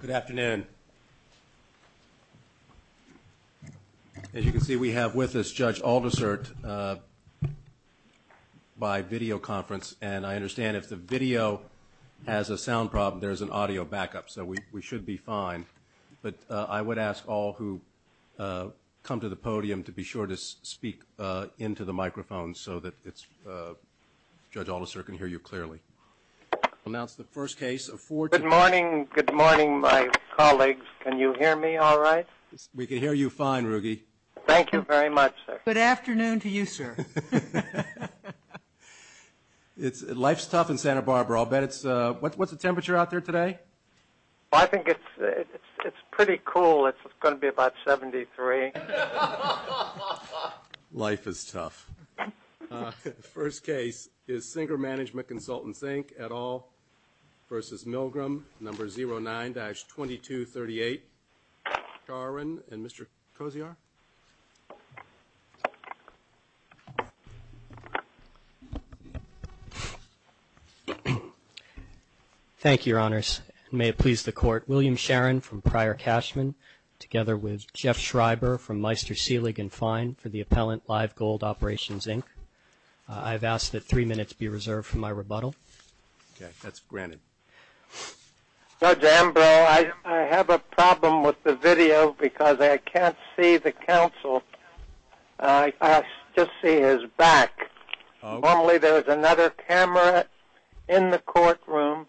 Good afternoon. As you can see, we have with us Judge Aldersert by video conference, and I understand if the video has a sound problem, there's an audio backup, so we should be fine. But I would ask all who come to the podium to be sure to speak into the microphone so that Judge Aldersert can hear you clearly. I'll announce the first case of four... Good morning, my colleagues. Can you hear me all right? We can hear you fine, Ruggie. Thank you very much, sir. Good afternoon to you, sir. Life's tough in Santa Barbara. I'll bet it's... What's the temperature out there today? I think it's pretty cool. It's going to be about 73. Life is tough. The first case is Sinker Management Consultant, Sink, et al. versus Milgram, number 09-2238. Garvin and Mr. Kosiar. Thank you, Your Honors. May it please the Court, William Sharon from Pryor Cashman, together with Jeff Schreiber from Meister Seelig & Fine for the appellant, Live Gold Operations, Inc. I've asked that three minutes be reserved for my rebuttal. Okay. That's granted. Judge Ambrose, I have a problem with the video because I can't see the counsel. I just see his back. Normally there is another camera in the courtroom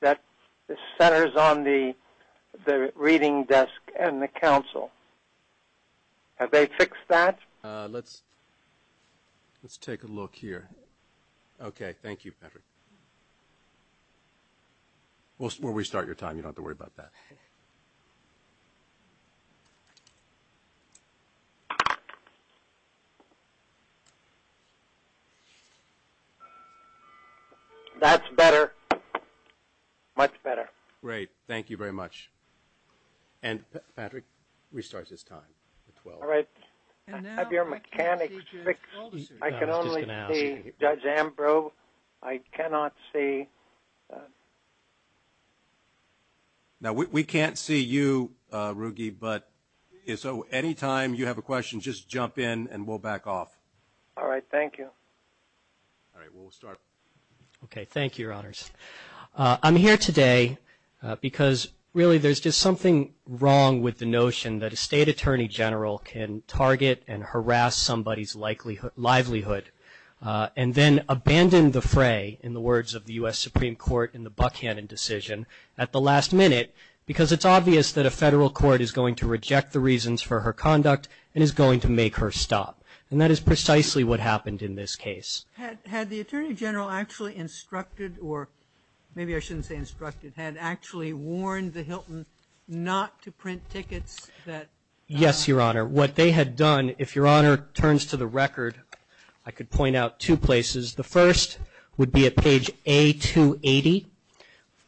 that centers on the reading desk and the counsel. Have they fixed that? Let's take a look here. Okay. Thank you, Patrick. We'll restart your time. You don't have to worry about that. Okay. That's better. Much better. Great. Thank you very much. And, Patrick, restart this time. All right. I have your mechanics fixed. I can only see Judge Ambrose. I cannot see... Now, we can't see you, Ruggie, but anytime you have a question, just jump in and we'll back off. All right. Thank you. All right. We'll start. Okay. Thank you, Your Honors. I'm here today because, really, there's just something wrong with the notion that a State Attorney General can target and harass somebody's livelihood and then abandon the fray, in the words of the U.S. Supreme Court in the Buckhannon decision, at the last minute, because it's obvious that a Federal court is going to reject the reasons for her conduct and is going to make her stop. And that is precisely what happened in this case. Had the Attorney General actually instructed, or maybe I shouldn't say instructed, had actually warned the Hilton not to print tickets that... Yes, Your Honor. What they had done, if Your Honor turns to the record, I could point out two places. The first would be at page A280,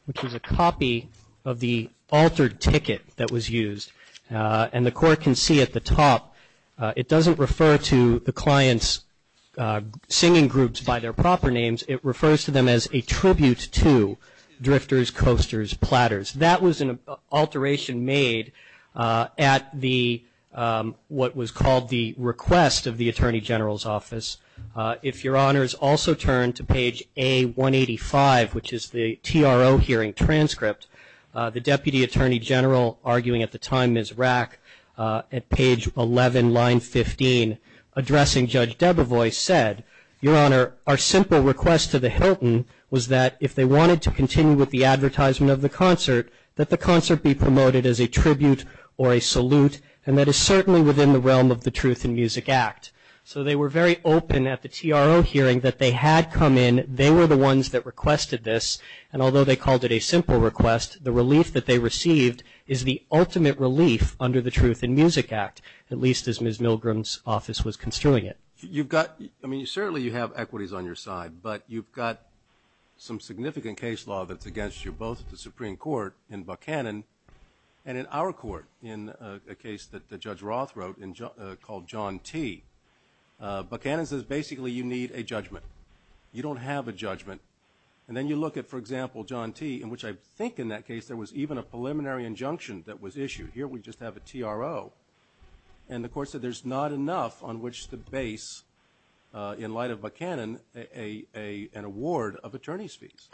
which is a copy of the altered ticket that was used. And the Court can see at the top, it doesn't refer to the client's singing groups by their proper names. It refers to them as a tribute to drifters, coasters, platters. That was an alteration made at what was called the request of the Attorney General's office. If Your Honor has also turned to page A185, which is the TRO hearing transcript, the Deputy Attorney General, arguing at the time Ms. Rack, at page 11, line 15, addressing Judge Debevoise said, Your Honor, our simple request to the Hilton was that if they wanted to continue with the advertisement of the concert, that the concert be promoted as a tribute or a salute, and that is certainly within the realm of the Truth in Music Act. So they were very open at the TRO hearing that they had come in. They were the ones that requested this. And although they called it a simple request, the relief that they received is the ultimate relief under the Truth in Music Act, at least as Ms. Milgram's office was construing it. You've got, I mean, certainly you have equities on your side, but you've got some significant case law that's against you, both at the Supreme Court in Buchanan and in our court in a case that Judge Roth wrote called John T. Buchanan says basically you need a judgment. You don't have a judgment. And then you look at, for example, John T., in which I think in that case there was even a preliminary injunction that was issued. Here we just have a TRO. And the Court said there's not enough on which to base, in light of Buchanan, an award of attorney's fees.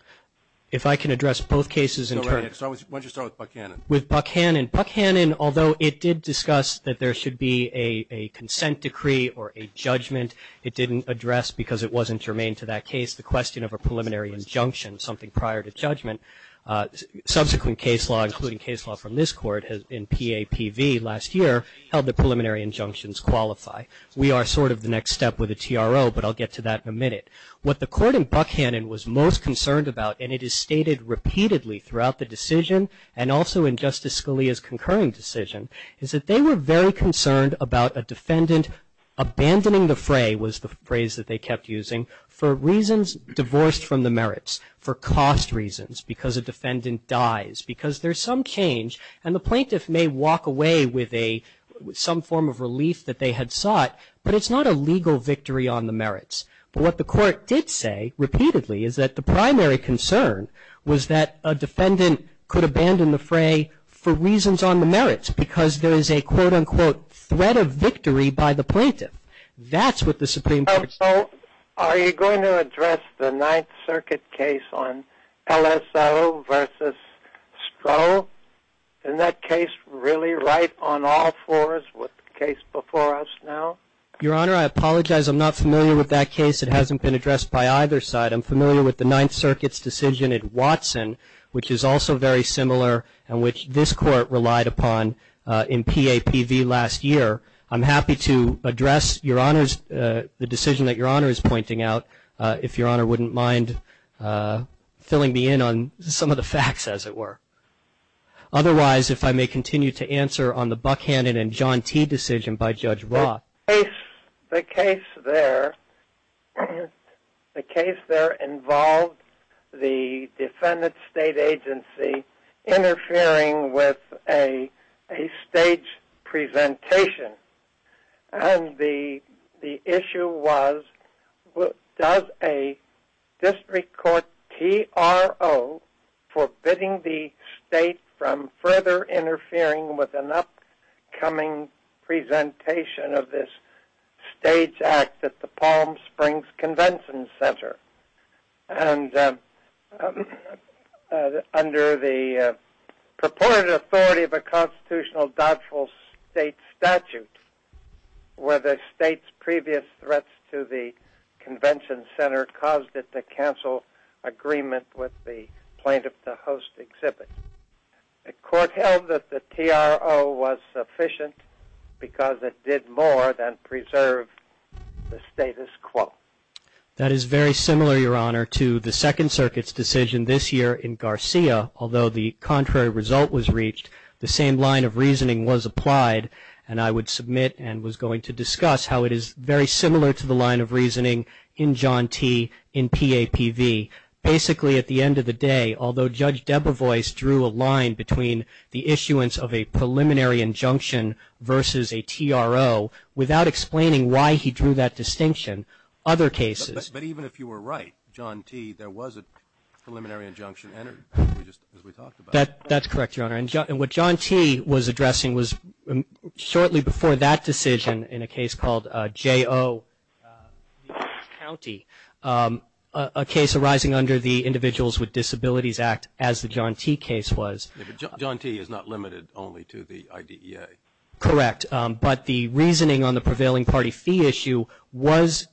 If I can address both cases in turn. Why don't you start with Buchanan? With Buchanan. Buchanan, although it did discuss that there should be a consent decree or a judgment, it didn't address because it wasn't germane to that case the question of a preliminary injunction, something prior to judgment. Subsequent case law, including case law from this Court in PAPV last year, held that preliminary injunctions qualify. We are sort of the next step with a TRO, but I'll get to that in a minute. What the Court in Buchanan was most concerned about, and it is stated repeatedly throughout the decision, and also in Justice Scalia's concurring decision, is that they were very concerned about a defendant abandoning the fray, was the phrase that they kept using, for reasons divorced from the merits, for cost reasons, because a defendant dies, because there's some change, and the plaintiff may walk away with some form of relief that they had sought, but it's not a legal victory on the merits. But what the Court did say, repeatedly, is that the primary concern was that a defendant could abandon the fray for reasons on the merits, because there is a, quote, unquote, threat of victory by the plaintiff. That's what the Supreme Court said. So are you going to address the Ninth Circuit case on LSO versus Stroh? Isn't that case really right on all fours with the case before us now? Your Honor, I apologize. I'm not familiar with that case. It hasn't been addressed by either side. I'm familiar with the Ninth Circuit's decision at Watson, which is also very similar and which this Court relied upon in PAPV last year. I'm happy to address, Your Honors, the decision that Your Honor is pointing out, if Your Honor wouldn't mind filling me in on some of the facts, as it were. Otherwise, if I may continue to answer on the Buckhannon and John T. decision by Judge Roth. The case there involved the defendant's state agency interfering with a stage presentation. And the issue was, does a district court TRO forbidding the state from further interfering with an upcoming presentation of this stage act at the Palm Springs Convention Center? And under the purported authority of a constitutional doubtful state statute, were the state's previous threats to the convention center caused it to cancel agreement with the plaintiff to host exhibit? The court held that the TRO was sufficient because it did more than preserve the status quo. That is very similar, Your Honor, to the Second Circuit's decision this year in Garcia. Although the contrary result was reached, the same line of reasoning was applied. And I would submit and was going to discuss how it is very similar to the line of reasoning in John T. in PAPV. Basically, at the end of the day, although Judge Debevoise drew a line between the issuance of a preliminary injunction versus a TRO, without explaining why he drew that distinction, other cases. But even if you were right, John T., there was a preliminary injunction entered as we talked about. That's correct, Your Honor. And what John T. was addressing was shortly before that decision in a case called J.O. County, a case arising under the Individuals with Disabilities Act as the John T. case was. John T. is not limited only to the IDEA. Correct. But the reasoning on the prevailing party fee issue was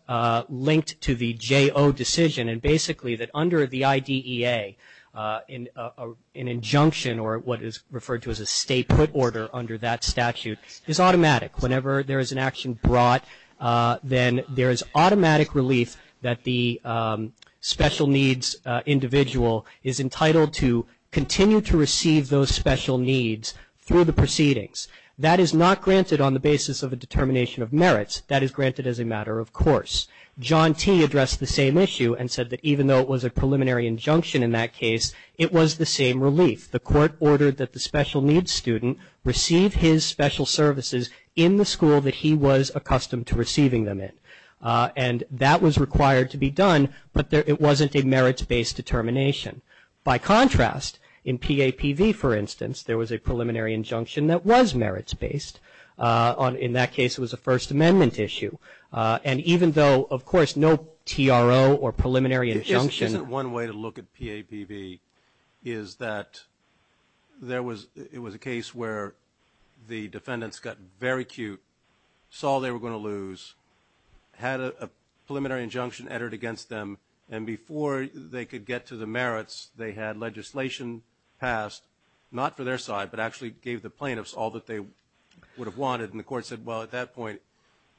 linked to the J.O. decision, and basically that under the IDEA, an injunction or what is referred to as a stay-put order under that statute is automatic. Whenever there is an action brought, then there is automatic relief that the special needs individual is entitled to continue to receive those special needs through the proceedings. That is not granted on the basis of a determination of merits. That is granted as a matter of course. John T. addressed the same issue and said that even though it was a preliminary injunction in that case, it was the same relief. The court ordered that the special needs student receive his special services in the school that he was accustomed to receiving them in. And that was required to be done, but it wasn't a merits-based determination. By contrast, in PAPV, for instance, there was a preliminary injunction that was merits-based. In that case, it was a First Amendment issue. And even though, of course, no TRO or preliminary injunction. If there isn't one way to look at PAPV is that it was a case where the defendants got very cute, saw they were going to lose, had a preliminary injunction entered against them, and before they could get to the merits, they had legislation passed, not for their side, but actually gave the plaintiffs all that they would have wanted. And the court said, well, at that point,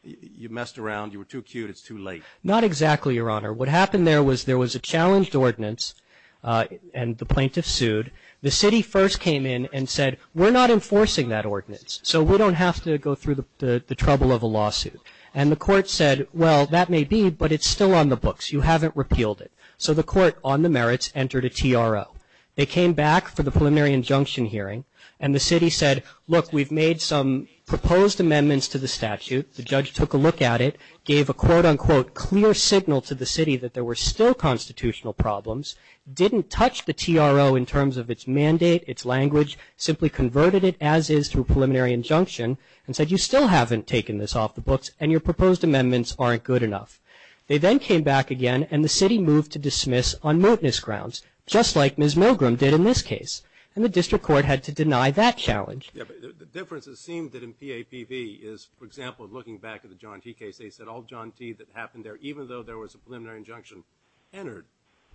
you messed around. You were too cute. It's too late. Not exactly, Your Honor. What happened there was there was a challenged ordinance, and the plaintiffs sued. The city first came in and said, we're not enforcing that ordinance, so we don't have to go through the trouble of a lawsuit. And the court said, well, that may be, but it's still on the books. You haven't repealed it. So the court, on the merits, entered a TRO. They came back for the preliminary injunction hearing, and the city said, look, we've made some proposed amendments to the statute. The judge took a look at it, gave a quote, unquote, clear signal to the city that there were still constitutional problems, didn't touch the TRO in terms of its mandate, its language, simply converted it as is through preliminary injunction, and said, you still haven't taken this off the books, and your proposed amendments aren't good enough. They then came back again, and the city moved to dismiss on moteness grounds, just like Ms. Milgram did in this case. And the district court had to deny that challenge. Yeah, but the difference, it seemed, that in PAPV is, for example, looking back at the John T case, they said all John T that happened there, even though there was a preliminary injunction entered,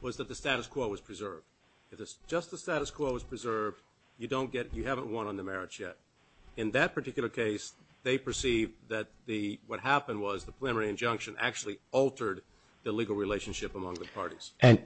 was that the status quo was preserved. If it's just the status quo was preserved, you don't get, you haven't won on the merits yet. In that particular case, they perceived that the, what happened was the preliminary injunction actually altered the legal relationship among the parties. And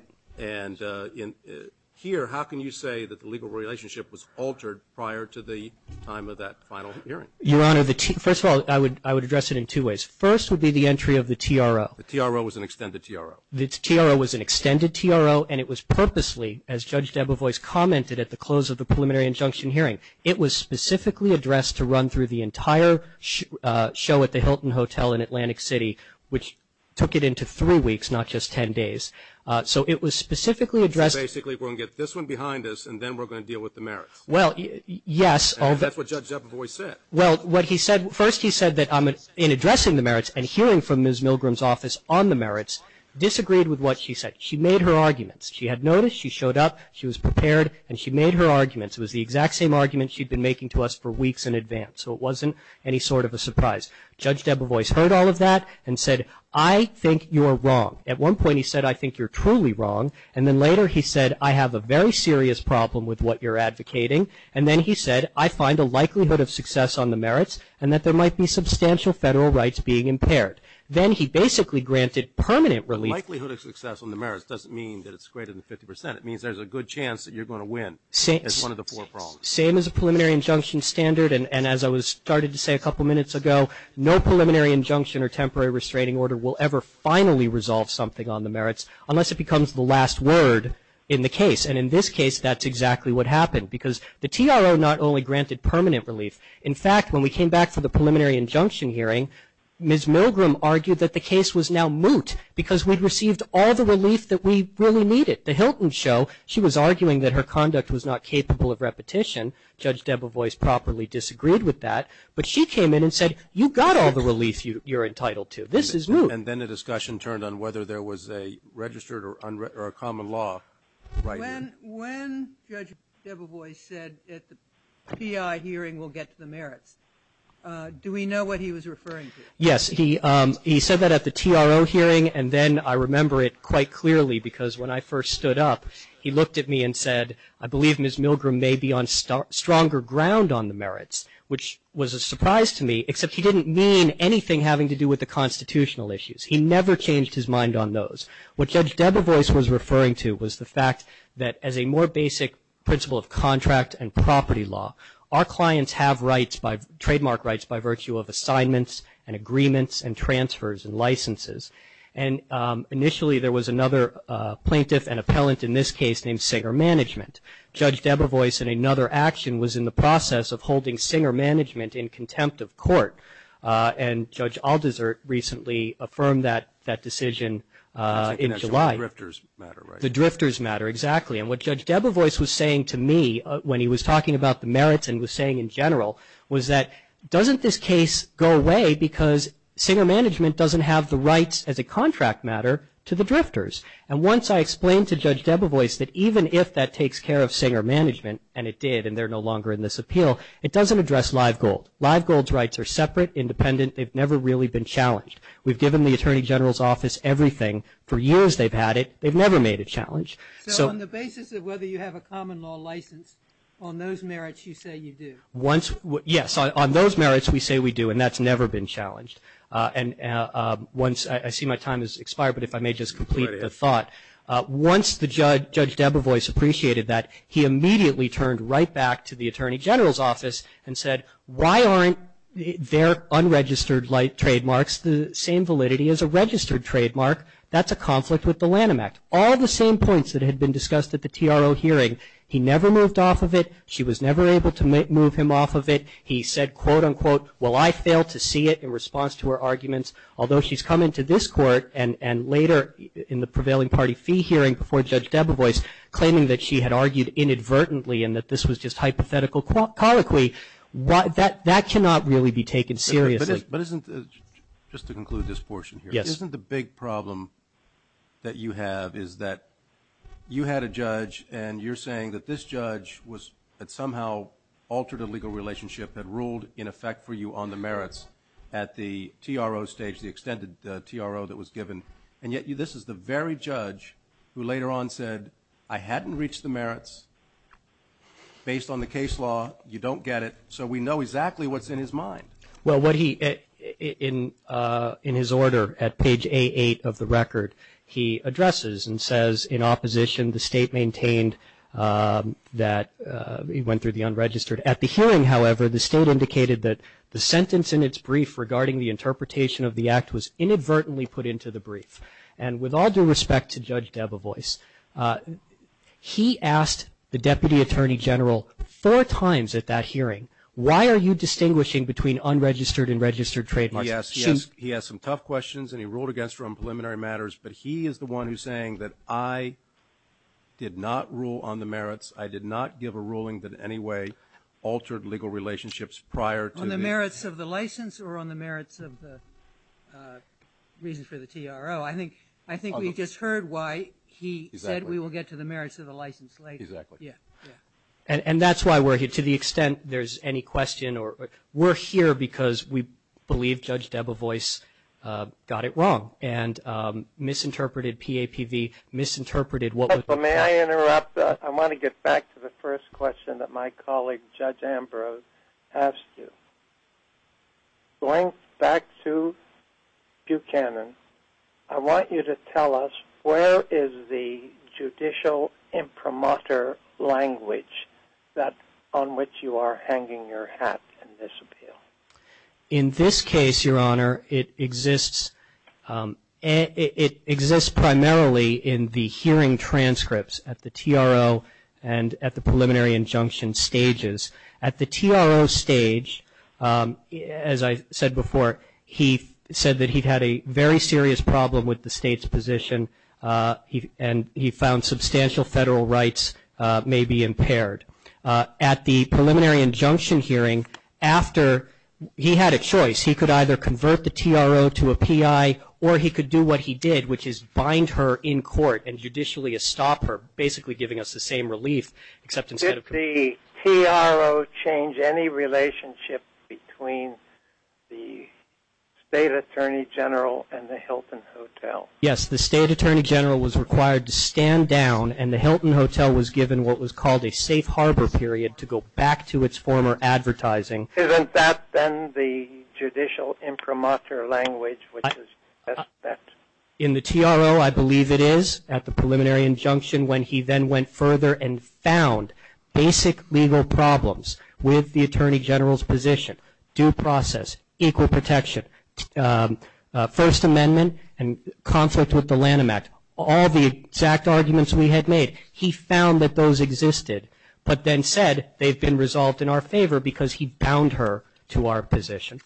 here, how can you say that the legal relationship was altered prior to the time of that final hearing? Your Honor, first of all, I would address it in two ways. First would be the entry of the TRO. The TRO was an extended TRO. The TRO was an extended TRO, and it was purposely, as Judge Debevoise commented at the close of the preliminary injunction hearing, it was specifically addressed to run through the entire show at the Hilton Hotel in Atlantic City, which took it into three weeks, not just ten days. So it was specifically addressed. So basically we're going to get this one behind us, and then we're going to deal with the merits. Well, yes. And that's what Judge Debevoise said. Well, what he said, first he said that in addressing the merits and hearing from Ms. Milgram's office on the merits, disagreed with what she said. She made her arguments. She had noticed. She showed up. She was prepared, and she made her arguments. It was the exact same argument she'd been making to us for weeks in advance. So it wasn't any sort of a surprise. Judge Debevoise heard all of that and said, I think you're wrong. At one point he said, I think you're truly wrong. And then later he said, I have a very serious problem with what you're advocating. And then he said, I find a likelihood of success on the merits and that there might be substantial federal rights being impaired. Then he basically granted permanent relief. The likelihood of success on the merits doesn't mean that it's greater than 50%. It means there's a good chance that you're going to win as one of the four problems. Same as a preliminary injunction standard, and as I started to say a couple minutes ago, no preliminary injunction or temporary restraining order will ever finally resolve something on the merits unless it becomes the last word in the case. And in this case, that's exactly what happened. Because the TRO not only granted permanent relief. In fact, when we came back for the preliminary injunction hearing, Ms. Milgram argued that the case was now moot because we'd received all the relief that we really needed. The Hilton show, she was arguing that her conduct was not capable of repetition. Judge Debevoise properly disagreed with that. But she came in and said, you've got all the relief you're entitled to. This is moot. And then the discussion turned on whether there was a registered or a common law. When Judge Debevoise said at the PI hearing we'll get to the merits, do we know what he was referring to? Yes. He said that at the TRO hearing. And then I remember it quite clearly because when I first stood up, he looked at me and said, I believe Ms. Milgram may be on stronger ground on the merits, which was a surprise to me except he didn't mean anything having to do with the constitutional issues. He never changed his mind on those. What Judge Debevoise was referring to was the fact that as a more basic principle of contract and property law, our clients have rights, trademark rights, by virtue of assignments and agreements and transfers and licenses. And initially there was another plaintiff and appellant in this case named Singer Management. Judge Debevoise in another action was in the process of holding Singer Management in contempt of court. And Judge Aldersert recently affirmed that decision in July. The drifters matter, right? The drifters matter, exactly. And what Judge Debevoise was saying to me when he was talking about the merits and was saying in general was that doesn't this case go away because Singer Management doesn't have the rights as a contract matter to the drifters. And once I explained to Judge Debevoise that even if that takes care of Singer Management, and it did and they're no longer in this appeal, it doesn't address Live Gold. Live Gold's rights are separate, independent. They've never really been challenged. We've given the Attorney General's Office everything. For years they've had it. They've never made it a challenge. So on the basis of whether you have a common law license, on those merits you say you do. Yes, on those merits we say we do, and that's never been challenged. And I see my time has expired, but if I may just complete the thought. Once Judge Debevoise appreciated that, he immediately turned right back to the Attorney General's Office and said, why aren't their unregistered trademarks the same validity as a registered trademark? That's a conflict with the Lanham Act. All the same points that had been discussed at the TRO hearing. He never moved off of it. She was never able to move him off of it. He said, quote, unquote, well, I failed to see it in response to her arguments. Although she's come into this court and later in the prevailing party fee hearing before Judge Debevoise, claiming that she had argued inadvertently and that this was just hypothetical colloquy, that cannot really be taken seriously. But isn't, just to conclude this portion here. Yes. Isn't the big problem that you have is that you had a judge and you're saying that this judge had somehow altered a legal relationship, had ruled in effect for you on the merits at the TRO stage, the extended TRO that was given. And yet this is the very judge who later on said, I hadn't reached the merits. Based on the case law, you don't get it. So we know exactly what's in his mind. Well, what he, in his order at page A8 of the record, he addresses and says in opposition the state maintained that he went through the unregistered. At the hearing, however, the state indicated that the sentence in its brief regarding the interpretation of the act was inadvertently put into the brief. And with all due respect to Judge Debevoise, he asked the Deputy Attorney General four times at that hearing, why are you distinguishing between unregistered and registered trademarks? He asked some tough questions and he ruled against her on preliminary matters, but he is the one who's saying that I did not rule on the merits, I did not give a ruling that in any way altered legal relationships prior to the ‑‑ On the merits of the license or on the merits of the reasons for the TRO? I think we just heard why he said we will get to the merits of the license later. Exactly. And that's why we're here. To the extent there's any question, we're here because we believe Judge Debevoise got it wrong and misinterpreted PAPV, misinterpreted what was ‑‑ May I interrupt? I want to get back to the first question that my colleague Judge Ambrose asked you. Going back to Buchanan, I want you to tell us where is the judicial imprimatur language on which you are hanging your hat in this appeal? In this case, Your Honor, it exists primarily in the hearing transcripts at the TRO and at the preliminary injunction stages. At the TRO stage, as I said before, he said that he had a very serious problem with the state's position and he found substantial federal rights may be impaired. At the preliminary injunction hearing, after he had a choice, he could either convert the TRO to a PI or he could do what he did, which is bind her in court and judicially estop her, basically giving us the same relief except instead of ‑‑ Did the TRO change any relationship between the State Attorney General and the Hilton Hotel? Yes, the State Attorney General was required to stand down and the Hilton Hotel was given what was called a safe harbor period to go back to its former advertising. Isn't that then the judicial imprimatur language? In the TRO, I believe it is at the preliminary injunction when he then went further and found basic legal problems with the Attorney General's position, due process, equal protection, First Amendment and conflict with the Lanham Act, all the exact arguments we had made, he found that those existed, but then said they've been resolved in our favor because he bound her to our position.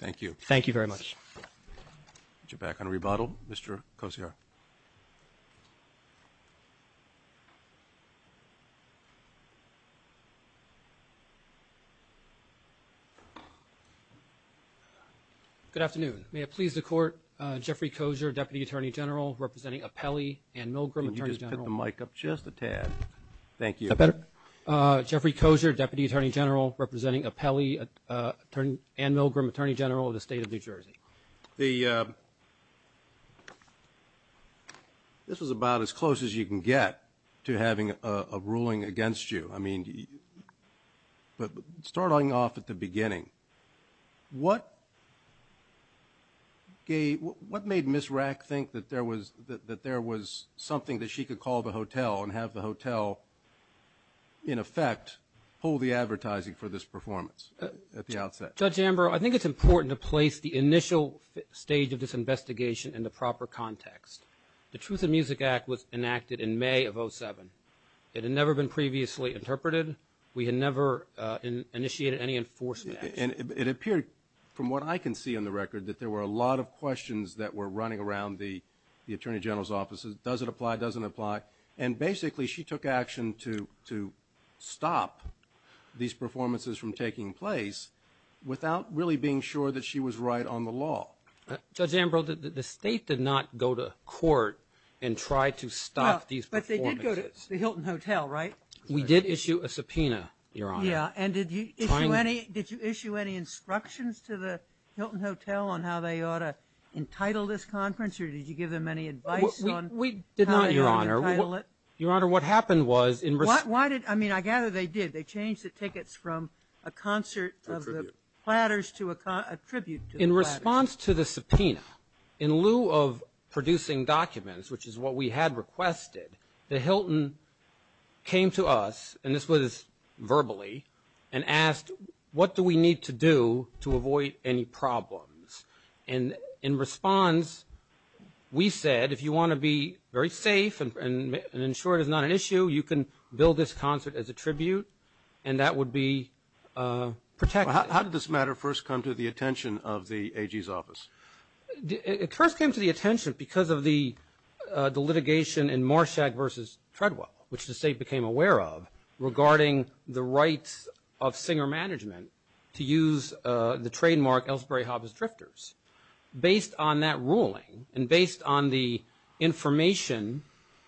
Thank you. Thank you very much. Would you back on rebuttal, Mr. Kosiar? Good afternoon. May it please the Court, Jeffrey Kosiar, Deputy Attorney General, representing Apelli and Milgram, Attorney General. Could you just put the mic up just a tad? Thank you. Is that better? Jeffrey Kosiar, Deputy Attorney General, representing Apelli and Milgram, Attorney General of the State of New Jersey. This is about as close as you can get to having a ruling against you. But starting off at the beginning, what made Ms. Rack think that there was something that she could call the hotel and have the hotel, in effect, pull the advertising for this performance at the outset? Judge Amber, I think it's important to place the initial stage of this investigation in the proper context. The Truth in Music Act was enacted in May of 2007. It had never been previously interpreted. We had never initiated any enforcement action. It appeared, from what I can see on the record, that there were a lot of questions that were running around the Attorney General's offices. Does it apply? Doesn't it apply? And basically, she took action to stop these performances from taking place without really being sure that she was right on the law. Judge Amber, the State did not go to court and try to stop these performances. But they did go to the Hilton Hotel, right? We did issue a subpoena, Your Honor. Yeah, and did you issue any instructions to the Hilton Hotel on how they ought to entitle this conference, We did not, Your Honor. Your Honor, what happened was in response to the subpoena, in lieu of producing documents, which is what we had requested, the Hilton came to us, and this was verbally, and asked, what do we need to do to avoid any problems? And in response, we said, if you want to be very safe and ensure it is not an issue, you can bill this concert as a tribute, and that would be protected. How did this matter first come to the attention of the AG's office? It first came to the attention because of the litigation in Marshack v. Treadwell, which the State became aware of, regarding the rights of singer management to use the trademark Ellsbury Hobbs Drifters. Based on that ruling and based on the information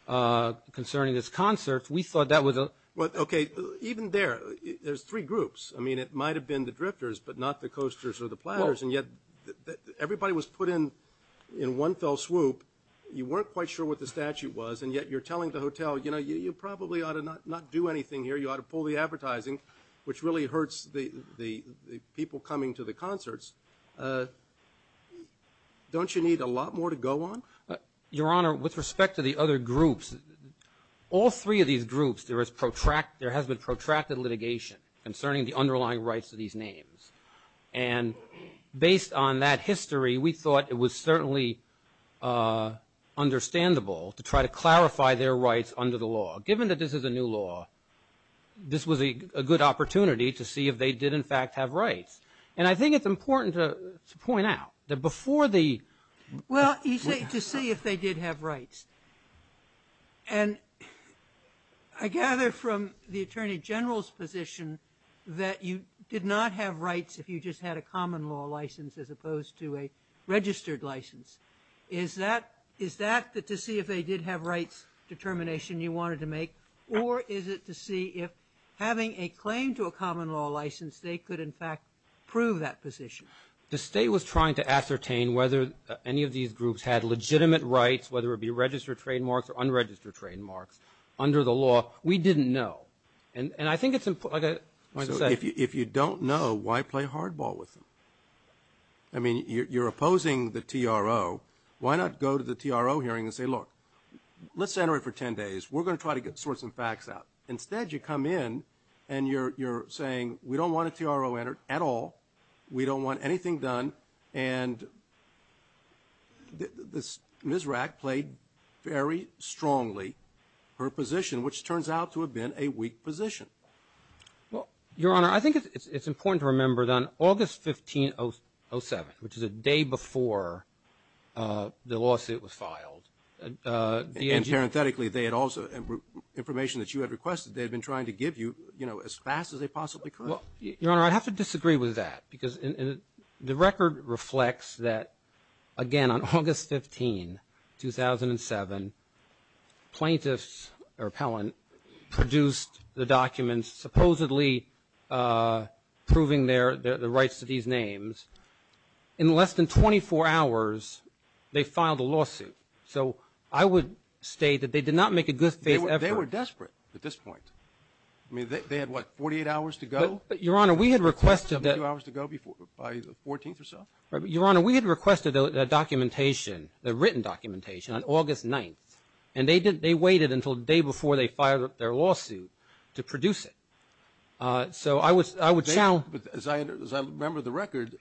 concerning this concert, we thought that was a Well, okay, even there, there's three groups. I mean, it might have been the drifters, but not the coasters or the platters, and yet everybody was put in one fell swoop. You weren't quite sure what the statute was, and yet you're telling the hotel, you know, you probably ought to not do anything here. You ought to pull the advertising, which really hurts the people coming to the concerts. Don't you need a lot more to go on? Your Honor, with respect to the other groups, all three of these groups, there has been protracted litigation concerning the underlying rights of these names, and based on that history, we thought it was certainly understandable to try to clarify their rights under the law, given that this is a new law. This was a good opportunity to see if they did in fact have rights, and I think it's important to point out that before the Well, you say to see if they did have rights, and I gather from the Attorney General's position that you did not have rights if you just had a common law license as opposed to a registered license. Is that to see if they did have rights determination you wanted to make, or is it to see if having a claim to a common law license, they could in fact prove that position? The State was trying to ascertain whether any of these groups had legitimate rights, whether it be registered trademarks or unregistered trademarks, under the law. We didn't know, and I think it's important, like I said So if you don't know, why play hardball with them? I mean, you're opposing the TRO. Why not go to the TRO hearing and say, look, let's enter it for 10 days. We're going to try to sort some facts out. Instead, you come in and you're saying, we don't want a TRO entered at all. We don't want anything done, and Ms. Rack played very strongly her position, which turns out to have been a weak position. Well, Your Honor, I think it's important to remember that on August 15, 2007, which is a day before the lawsuit was filed. And parenthetically, they had also, information that you had requested, they had been trying to give you, you know, as fast as they possibly could. Your Honor, I have to disagree with that because the record reflects that, again, on August 15, 2007, plaintiffs or appellant produced the documents supposedly proving their rights to these names. In less than 24 hours, they filed a lawsuit. So I would state that they did not make a good faith effort. They were desperate at this point. I mean, they had, what, 48 hours to go? Your Honor, we had requested that. A few hours to go by the 14th or so. Your Honor, we had requested a documentation, a written documentation on August 9th, and they waited until the day before they filed their lawsuit to produce it. So I would challenge. But as I remember the record,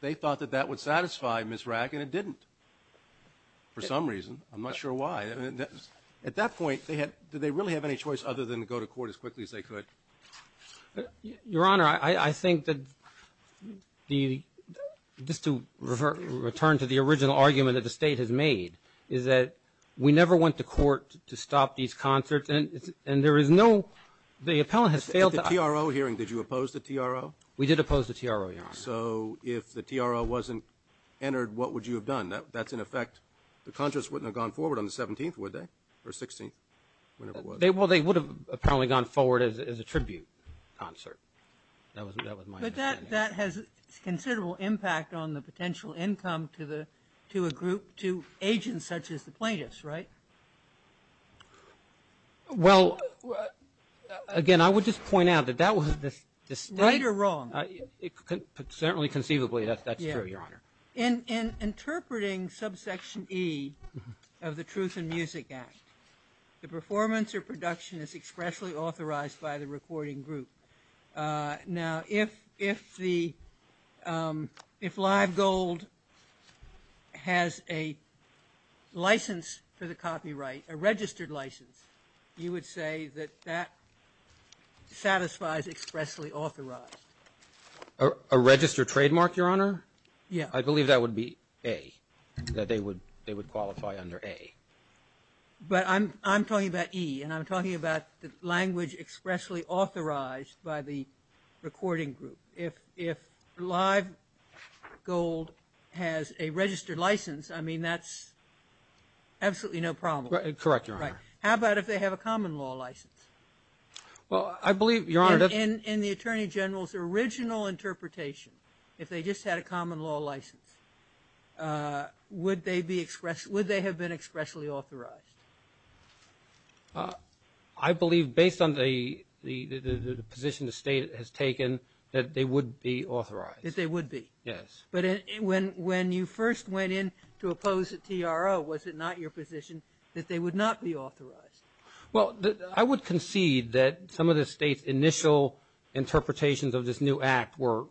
they thought that that would satisfy Ms. Rack, and it didn't, for some reason. I'm not sure why. At that point, did they really have any choice other than to go to court as quickly as they could? Your Honor, I think that the, just to return to the original argument that the State has made, is that we never went to court to stop these concerts, and there is no, the appellant has failed to. At the TRO hearing, did you oppose the TRO? We did oppose the TRO, Your Honor. So if the TRO wasn't entered, what would you have done? That's in effect, the concerts wouldn't have gone forward on the 17th, would they, or 16th, whenever it was. Well, they would have apparently gone forward as a tribute concert. That was my understanding. But that has considerable impact on the potential income to a group, to agents such as the plaintiffs, right? Well, again, I would just point out that that was the State. Right or wrong? Certainly conceivably, that's true, Your Honor. In interpreting subsection E of the Truth in Music Act, the performance or production is expressly authorized by the recording group. Now, if the, if Live Gold has a license for the copyright, a registered license, you would say that that satisfies expressly authorized. A registered trademark, Your Honor? Yeah. I believe that would be A, that they would qualify under A. But I'm talking about E, and I'm talking about the language expressly authorized by the recording group. If Live Gold has a registered license, I mean, that's absolutely no problem. Correct, Your Honor. How about if they have a common law license? Well, I believe, Your Honor, that's if they just had a common law license, would they have been expressly authorized? I believe, based on the position the State has taken, that they would be authorized. That they would be. Yes. But when you first went in to oppose the TRO, was it not your position that they would not be authorized? Well, I would concede that some of the State's initial interpretations of this new act were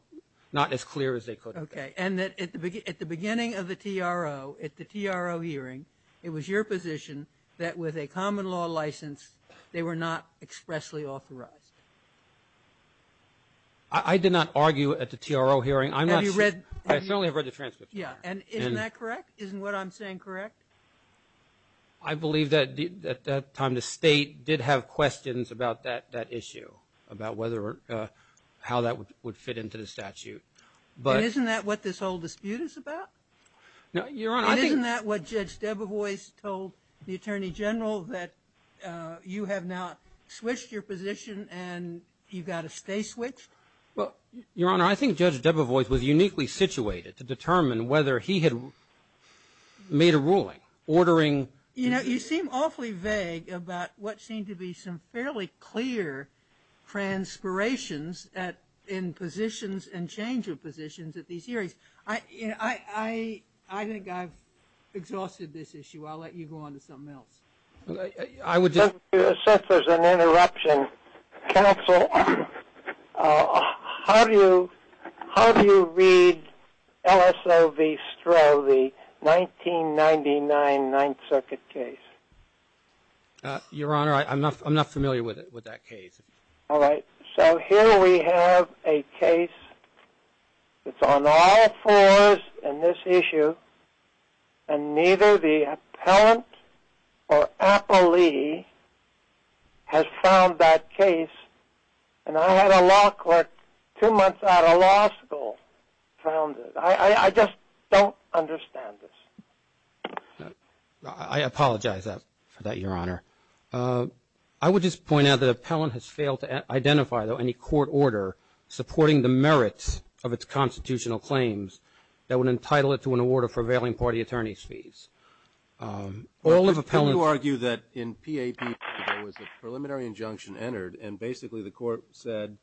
not as clear as they could. Okay. And that at the beginning of the TRO, at the TRO hearing, it was your position that with a common law license, they were not expressly authorized. I did not argue at the TRO hearing. I'm not sure. Have you read? I certainly have read the transcript. Yeah. And isn't that correct? Isn't what I'm saying correct? I believe that at that time the State did have questions about that issue, about whether or how that would fit into the statute. But isn't that what this whole dispute is about? No, Your Honor, I think Isn't that what Judge Debevoise told the Attorney General, that you have now switched your position and you've got to stay switched? Well, Your Honor, I think Judge Debevoise was uniquely situated to determine whether he had made a ruling ordering You know, you seem awfully vague about what seemed to be some fairly clear transpirations in positions and change of positions at these hearings. I think I've exhausted this issue. I'll let you go on to something else. Since there's an interruption, Counsel, how do you read LSOV Stroh, the 1999 Ninth Circuit case? Your Honor, I'm not familiar with that case. All right. So here we have a case that's on all fours in this issue, and neither the appellant or appellee has found that case. And I had a law clerk two months out of law school found it. I just don't understand this. I apologize for that, Your Honor. I would just point out that an appellant has failed to identify, though, any court order supporting the merits of its constitutional claims that would entitle it to an award of prevailing party attorney's fees. All of appellants argue that in PAP, there was a preliminary injunction entered, and basically the court said,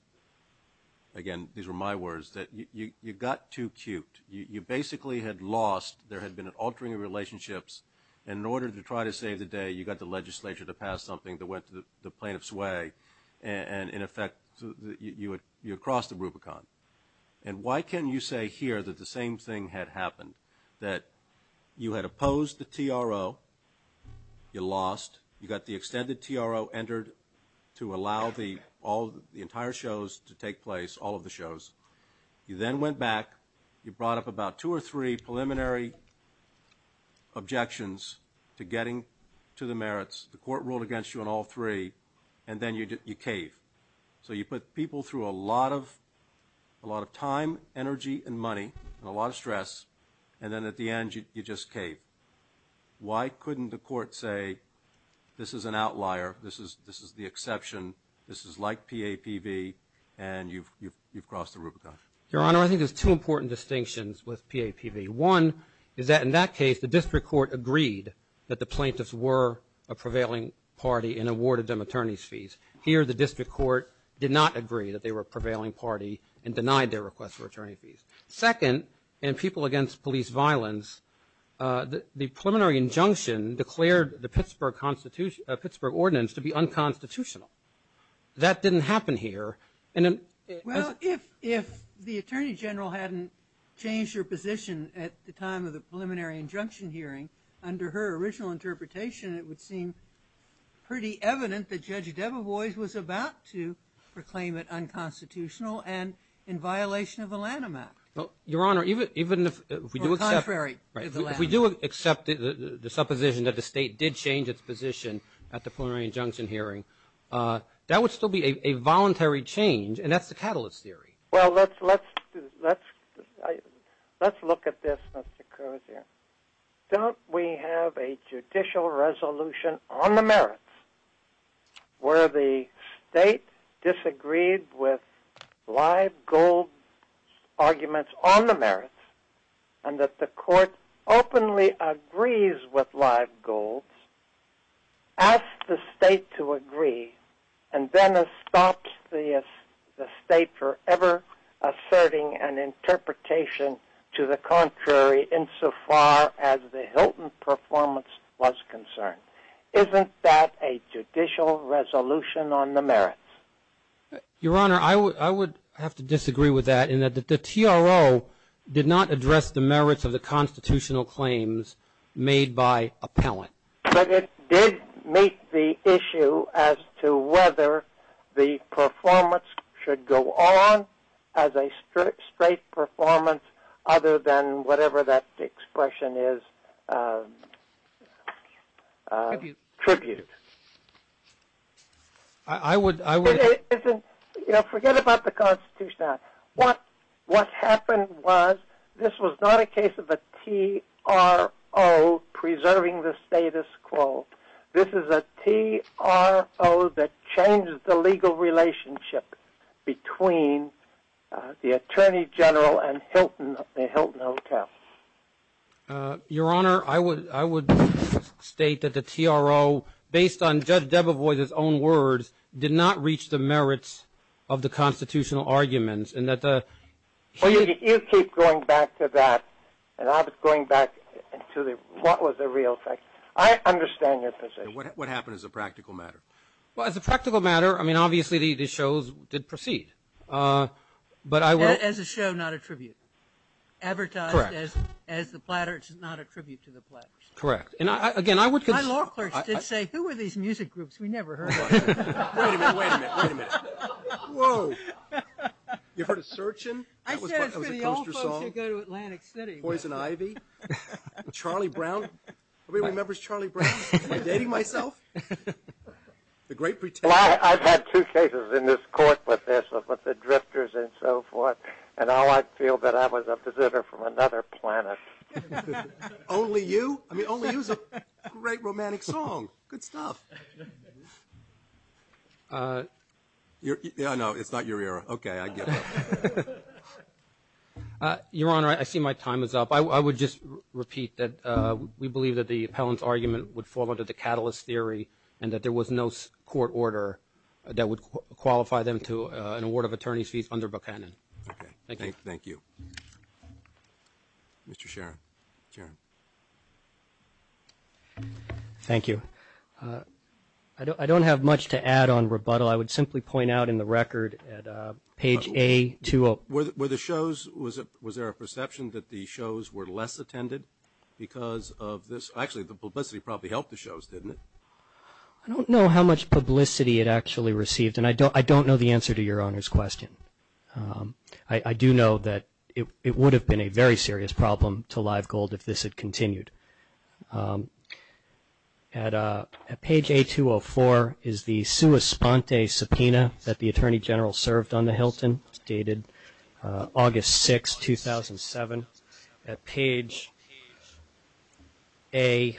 again, these were my words, that you got too cute. You basically had lost, there had been an altering of relationships, and in order to try to save the day, you got the legislature to pass something that went to the plaintiff's way, and, in effect, you had crossed the Rubicon. And why can you say here that the same thing had happened, that you had opposed the TRO, you lost, you got the extended TRO entered to allow the entire shows to take place, all of the shows, you then went back, you brought up about two or three preliminary objections to getting to the merits, the court ruled against you on all three, and then you cave. So you put people through a lot of time, energy, and money, and a lot of stress, and then at the end, you just cave. Why couldn't the court say, this is an outlier, this is the exception, this is like PAPV, and you've crossed the Rubicon? Your Honor, I think there's two important distinctions with PAPV. One is that in that case, the district court agreed that the plaintiffs were a prevailing party and awarded them attorney's fees. Here, the district court did not agree that they were a prevailing party and denied their request for attorney fees. Second, in people against police violence, the preliminary injunction declared the Pittsburgh ordinance to be unconstitutional. That didn't happen here. Well, if the Attorney General hadn't changed her position at the time of the preliminary injunction hearing, under her original interpretation, it would seem pretty evident that Judge Debevoise was about to proclaim it unconstitutional and in violation of the Lanham Act. Your Honor, even if we do accept the supposition that the state did change its position at the preliminary injunction hearing, that would still be a voluntary change, and that's the catalyst theory. Well, let's look at this, Mr. Kurzer. Don't we have a judicial resolution on the merits where the state disagreed with live gold arguments on the merits and that the court openly agrees with live gold, asks the state to agree, and then stops the state from ever asserting an interpretation to the contrary insofar as the Hilton performance was concerned? Isn't that a judicial resolution on the merits? Your Honor, I would have to disagree with that, in that the TRO did not address the merits of the constitutional claims made by appellant. But it did make the issue as to whether the performance should go on as a straight performance other than whatever that expression is tributed. I would... You know, forget about the Constitution. What happened was this was not a case of a TRO preserving the status quo. This is a TRO that changes the legal relationship between the Attorney General and the Hilton Hotel. Your Honor, I would state that the TRO, based on Judge Debevoise's own words, did not reach the merits of the constitutional arguments, and that the... Well, you keep going back to that, and I was going back to what was the real thing. I understand your position. What happened as a practical matter? Well, as a practical matter, I mean, obviously the shows did proceed. But I will... As a show, not a tribute. Correct. Advertised as the Platters, not a tribute to the Platters. Correct. And again, I would... My law clerks did say, who are these music groups we never heard of? Wait a minute, wait a minute, wait a minute. Whoa. You've heard of Searchin'? I said it's for the old folks who go to Atlantic City. Poison Ivy? Charlie Brown? Everybody remembers Charlie Brown? Am I dating myself? The great pretender. Well, I've had two cases in this court with this, with the drifters and so forth, and all I feel that I was a visitor from another planet. Only You? I mean, Only You is a great romantic song. Good stuff. No, it's not your era. Okay, I get it. Your Honor, I see my time is up. I would just repeat that we believe that the appellant's argument would fall under the catalyst theory and that there was no court order that would qualify them to an award of attorney's fees under Buchanan. Okay. Thank you. Thank you. Mr. Sharon. Sharon. Thank you. I don't have much to add on rebuttal. I would simply point out in the record at page A to O. Were the shows, was there a perception that the shows were less attended because of this? Actually, the publicity probably helped the shows, didn't it? I don't know how much publicity it actually received, and I don't know the answer to Your Honor's question. I do know that it would have been a very serious problem to Live Gold if this had continued. At page A204 is the sua sponte subpoena that the Attorney General served on the Hilton, dated August 6, 2007. At page A138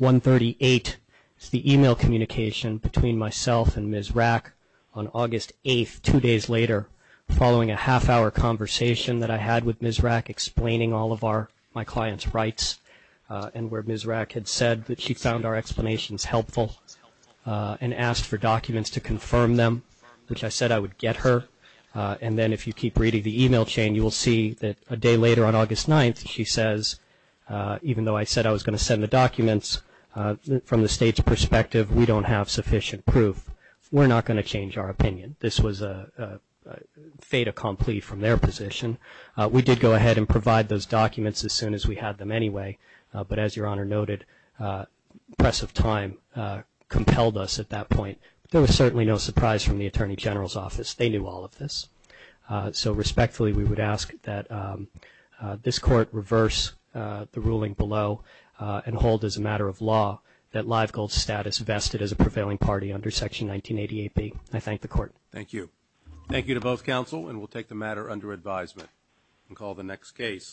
is the e-mail communication between myself and Ms. Rack on August 8, two days later, following a half-hour conversation that I had with Ms. Rack explaining all of my client's rights and where Ms. Rack had said that she found our explanations helpful and asked for documents to confirm them, which I said I would get her. And then if you keep reading the e-mail chain, you will see that a day later on August 9th, she says, even though I said I was going to send the documents, from the State's perspective, we don't have sufficient proof. We're not going to change our opinion. This was a fait accompli from their position. We did go ahead and provide those documents as soon as we had them anyway. But as Your Honor noted, the press of time compelled us at that point. There was certainly no surprise from the Attorney General's office. They knew all of this. So respectfully, we would ask that this Court reverse the ruling below and hold as a matter of law that Live Gold's status vested as a prevailing party under Section 1988B. I thank the Court. Thank you. Thank you to both counsel, and we'll take the matter under advisement and call the next case.